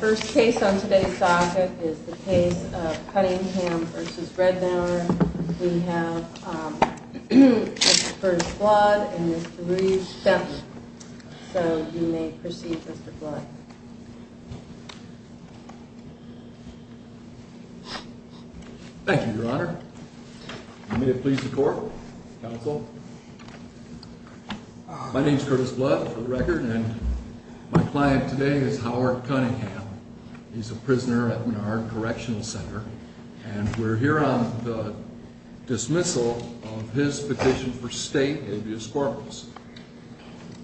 First case on today's docket is the case of Cunningham v. Rednour. We have Curtis Blood and Mr. Reeves Bentley. So you may proceed, Mr. Blood. Thank you, Your Honor. May it please the Court, Counsel. My name is Curtis Blood, for the record, and my client today is Howard Cunningham. He's a prisoner at our correctional center. And we're here on the dismissal of his petition for state habeas corpus.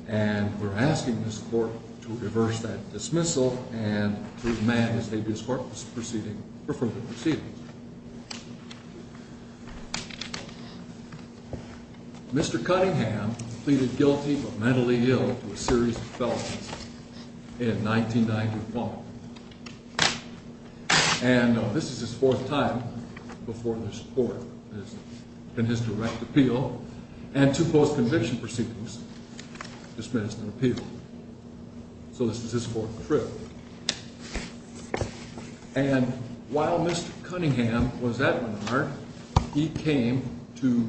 And we're asking this Court to reverse that dismissal and to amend his habeas corpus proceeding for further proceedings. Mr. Cunningham pleaded guilty of mentally ill to a series of felonies in 1991. And this is his fourth time before this Court in his direct appeal and two post-conviction proceedings dismissed and appealed. So this is his fourth trip. And while Mr. Cunningham was at Menard, he came to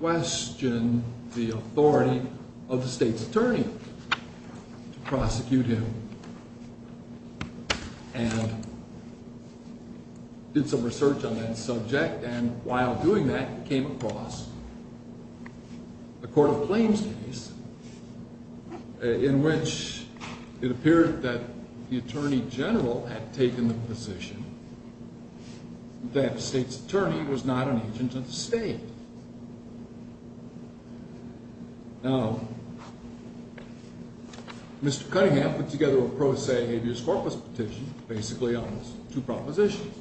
question the authority of the state's attorney to prosecute him. And did some research on that subject. And while doing that, he came across a court of claims case in which it appeared that the attorney general had taken the position that the state's attorney was not an agent of the state. Now, Mr. Cunningham put together a pro se habeas corpus petition, basically on two propositions.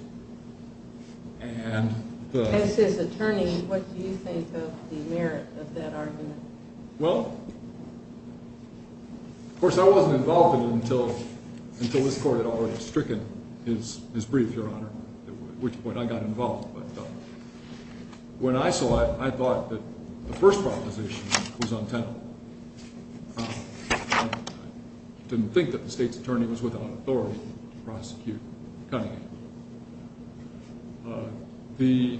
As his attorney, what do you think of the merit of that argument? Well, of course, I wasn't involved in it until this Court had already stricken his brief, Your Honor, at which point I got involved. But when I saw it, I thought that the first proposition was untenable. I didn't think that the state's attorney was without authority to prosecute Cunningham. The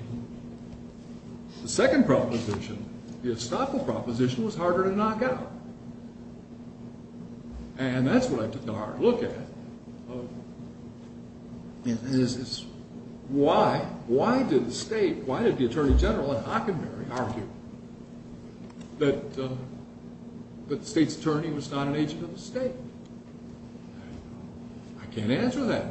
second proposition, the estoppel proposition, was harder to knock out. And that's what I took a hard look at. Why did the state, why did the attorney general at Hockenberry argue that the state's attorney was not an agent of the state? I can't answer that.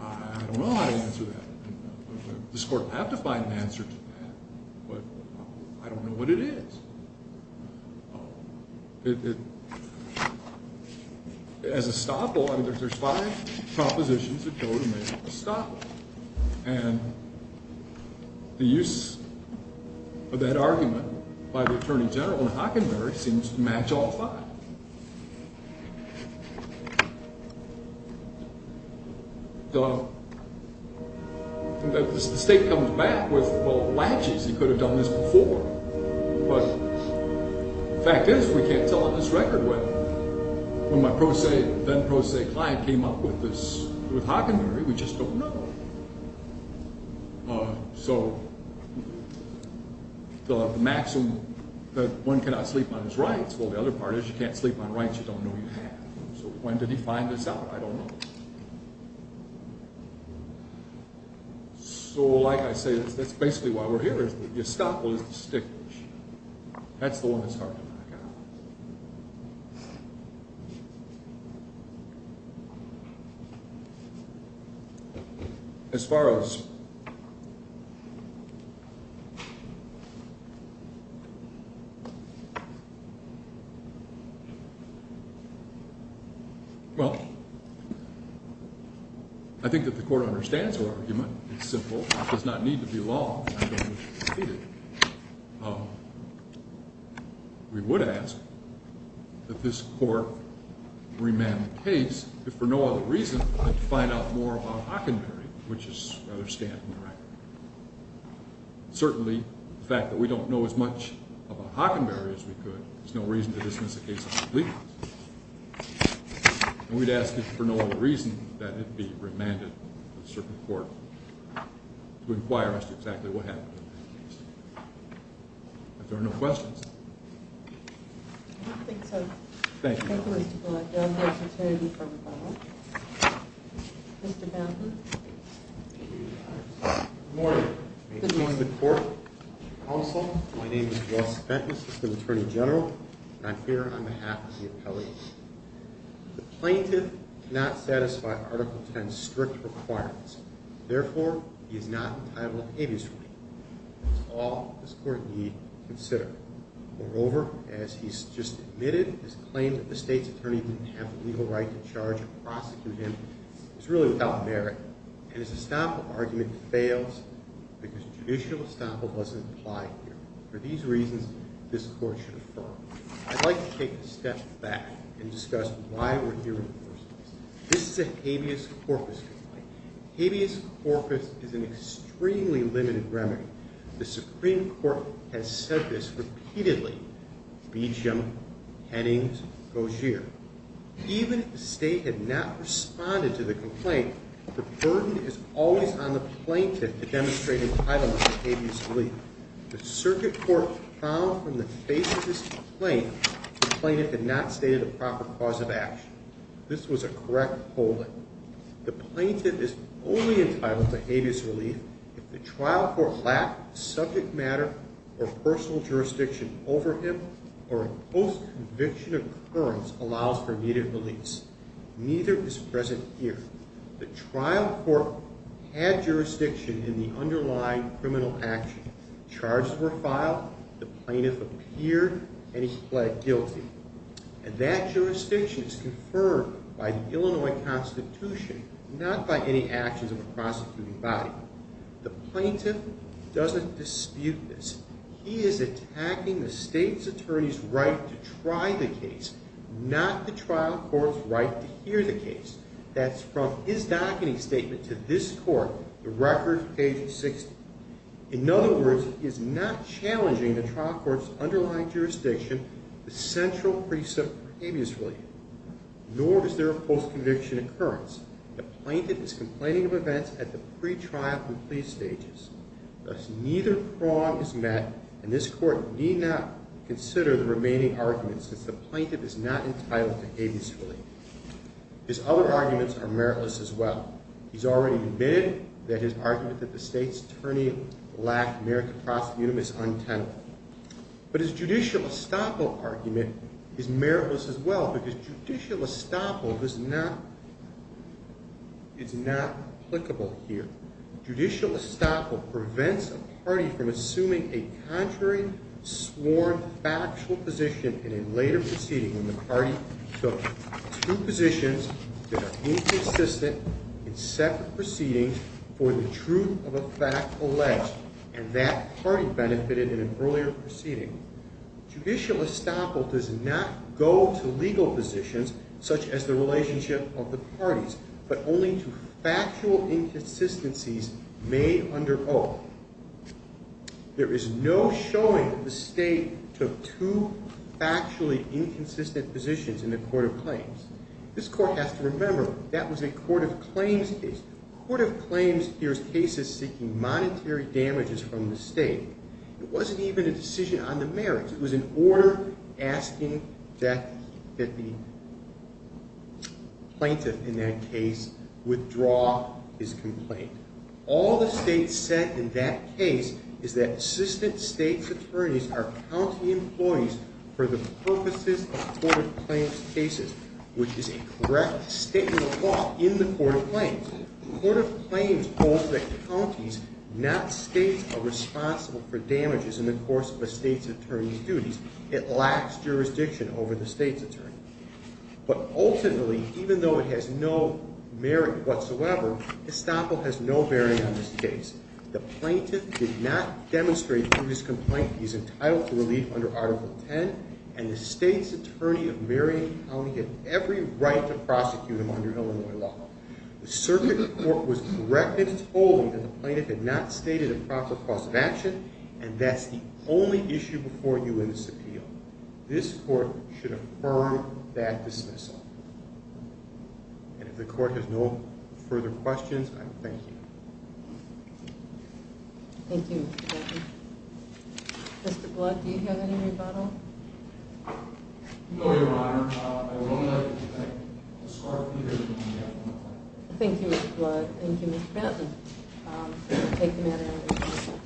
I don't know how to answer that. This Court will have to find an answer to that. But I don't know what it is. It, as estoppel, I mean, there's five propositions that go to make estoppel. And the use of that argument by the attorney general at Hockenberry seems to match all five. The state comes back with, well, latches. He could have done this before. But the fact is, we can't tell on this record when my then-prose client came up with this, with Hockenberry. We just don't know. So the maxim that one cannot sleep on his rights, well, the other part is you can't sleep on rights you don't know you have. So when did he find this out? I don't know. So, like I say, that's basically why we're here, is the estoppel is the stick issue. That's the one that's hard to knock out. As far as Well, I think that the Court understands the argument. It's simple. It does not need to be law. I don't wish to debate it. We would ask that this Court remand the case if for no other reason than to find out more about Hockenberry, which is rather scant on the record. Certainly, the fact that we don't know as much about Hockenberry as we could, there's no reason to dismiss the case as legal. And we'd ask it for no other reason than it be remanded to a certain court to inquire as to exactly what happened. If there are no questions. I don't think so. Thank you. Mr. Fenton. Good morning. Good morning to the Court, Counsel. My name is Ross Fenton, Assistant Attorney General, and I'm here on behalf of the appellate. The plaintiff cannot satisfy Article 10's strict requirements. Therefore, he is not entitled to habeas court. That's all this Court need consider. Moreover, as he's just admitted, his claim that the State's Attorney didn't have the legal right to charge or prosecute him is really without merit. And his estoppel argument fails because judicial estoppel doesn't apply here. For these reasons, this Court should affirm. I'd like to take a step back and discuss why we're here in the first place. This is a habeas corpus complaint. Habeas corpus is an extremely limited remedy. The Supreme Court has said this repeatedly. Beecham, Hennings, Gaugier. Even if the State had not responded to the complaint, the burden is always on the plaintiff to demonstrate entitlement to habeas relief. The circuit court found from the face of this complaint the plaintiff had not stated a proper cause of action. This was a correct holding. The plaintiff is only entitled to habeas relief if the trial court lacked subject matter or personal jurisdiction over him or a post-conviction occurrence allows for immediate release. Neither is present here. The trial court had jurisdiction in the underlying criminal action. Charges were filed, the plaintiff appeared, and he pled guilty. And that jurisdiction is confirmed by the Illinois Constitution, not by any actions of a prosecuting body. The plaintiff doesn't dispute this. He is attacking the State's attorney's right to try the case, not the trial court's right to hear the case. That's from his docketing statement to this Court, the record, page 60. In other words, he is not challenging the trial court's underlying jurisdiction, the central precept for habeas relief. Nor is there a post-conviction occurrence. The plaintiff is complaining of events at the pretrial and plea stages. Thus, neither prong is met, and this Court need not consider the remaining arguments since the plaintiff is not entitled to habeas relief. His other arguments are meritless as well. He's already admitted that his argument that the State's attorney lacked merit to prosecute him is untenable. But his judicial estoppel argument is meritless as well because judicial estoppel is not applicable here. Judicial estoppel prevents a party from assuming a contrary, sworn, factual position in a later proceeding when the party took two positions that are inconsistent in separate proceedings for the truth of a fact alleged, and that party benefited in an earlier proceeding. Judicial estoppel does not go to legal positions, such as the relationship of the parties, but only to factual inconsistencies made under oath. There is no showing that the State took two factually inconsistent positions in the Court of Claims. This Court has to remember that was a Court of Claims case. A Court of Claims hears cases seeking monetary damages from the State. It wasn't even a decision on the merits. It was an order asking that the plaintiff in that case withdraw his complaint. All the State said in that case is that assistant State's attorneys are county employees for the purposes of Court of Claims cases, which is a correct statement of law in the Court of Claims. The Court of Claims holds that counties, not states, are responsible for damages in the course of a State's attorney's duties. It lacks jurisdiction over the State's attorney. But ultimately, even though it has no merit whatsoever, estoppel has no merit on this case. The plaintiff did not demonstrate through his complaint that he's entitled to relief under Article 10, and the State's attorney of Marion County had every right to prosecute him under Illinois law. The circuit court was corrected and told that the plaintiff had not stated a proper cause of action, and that's the only issue before you in this appeal. This Court should affirm that dismissal. And if the Court has no further questions, I thank you. Thank you, Mr. Bentley. Mr. Blood, do you have any rebuttal? No, Your Honor. I will not. And I discard neither of you, Your Honor. Thank you, Mr. Blood. Thank you, Mr. Bentley. I take the matter under discussion.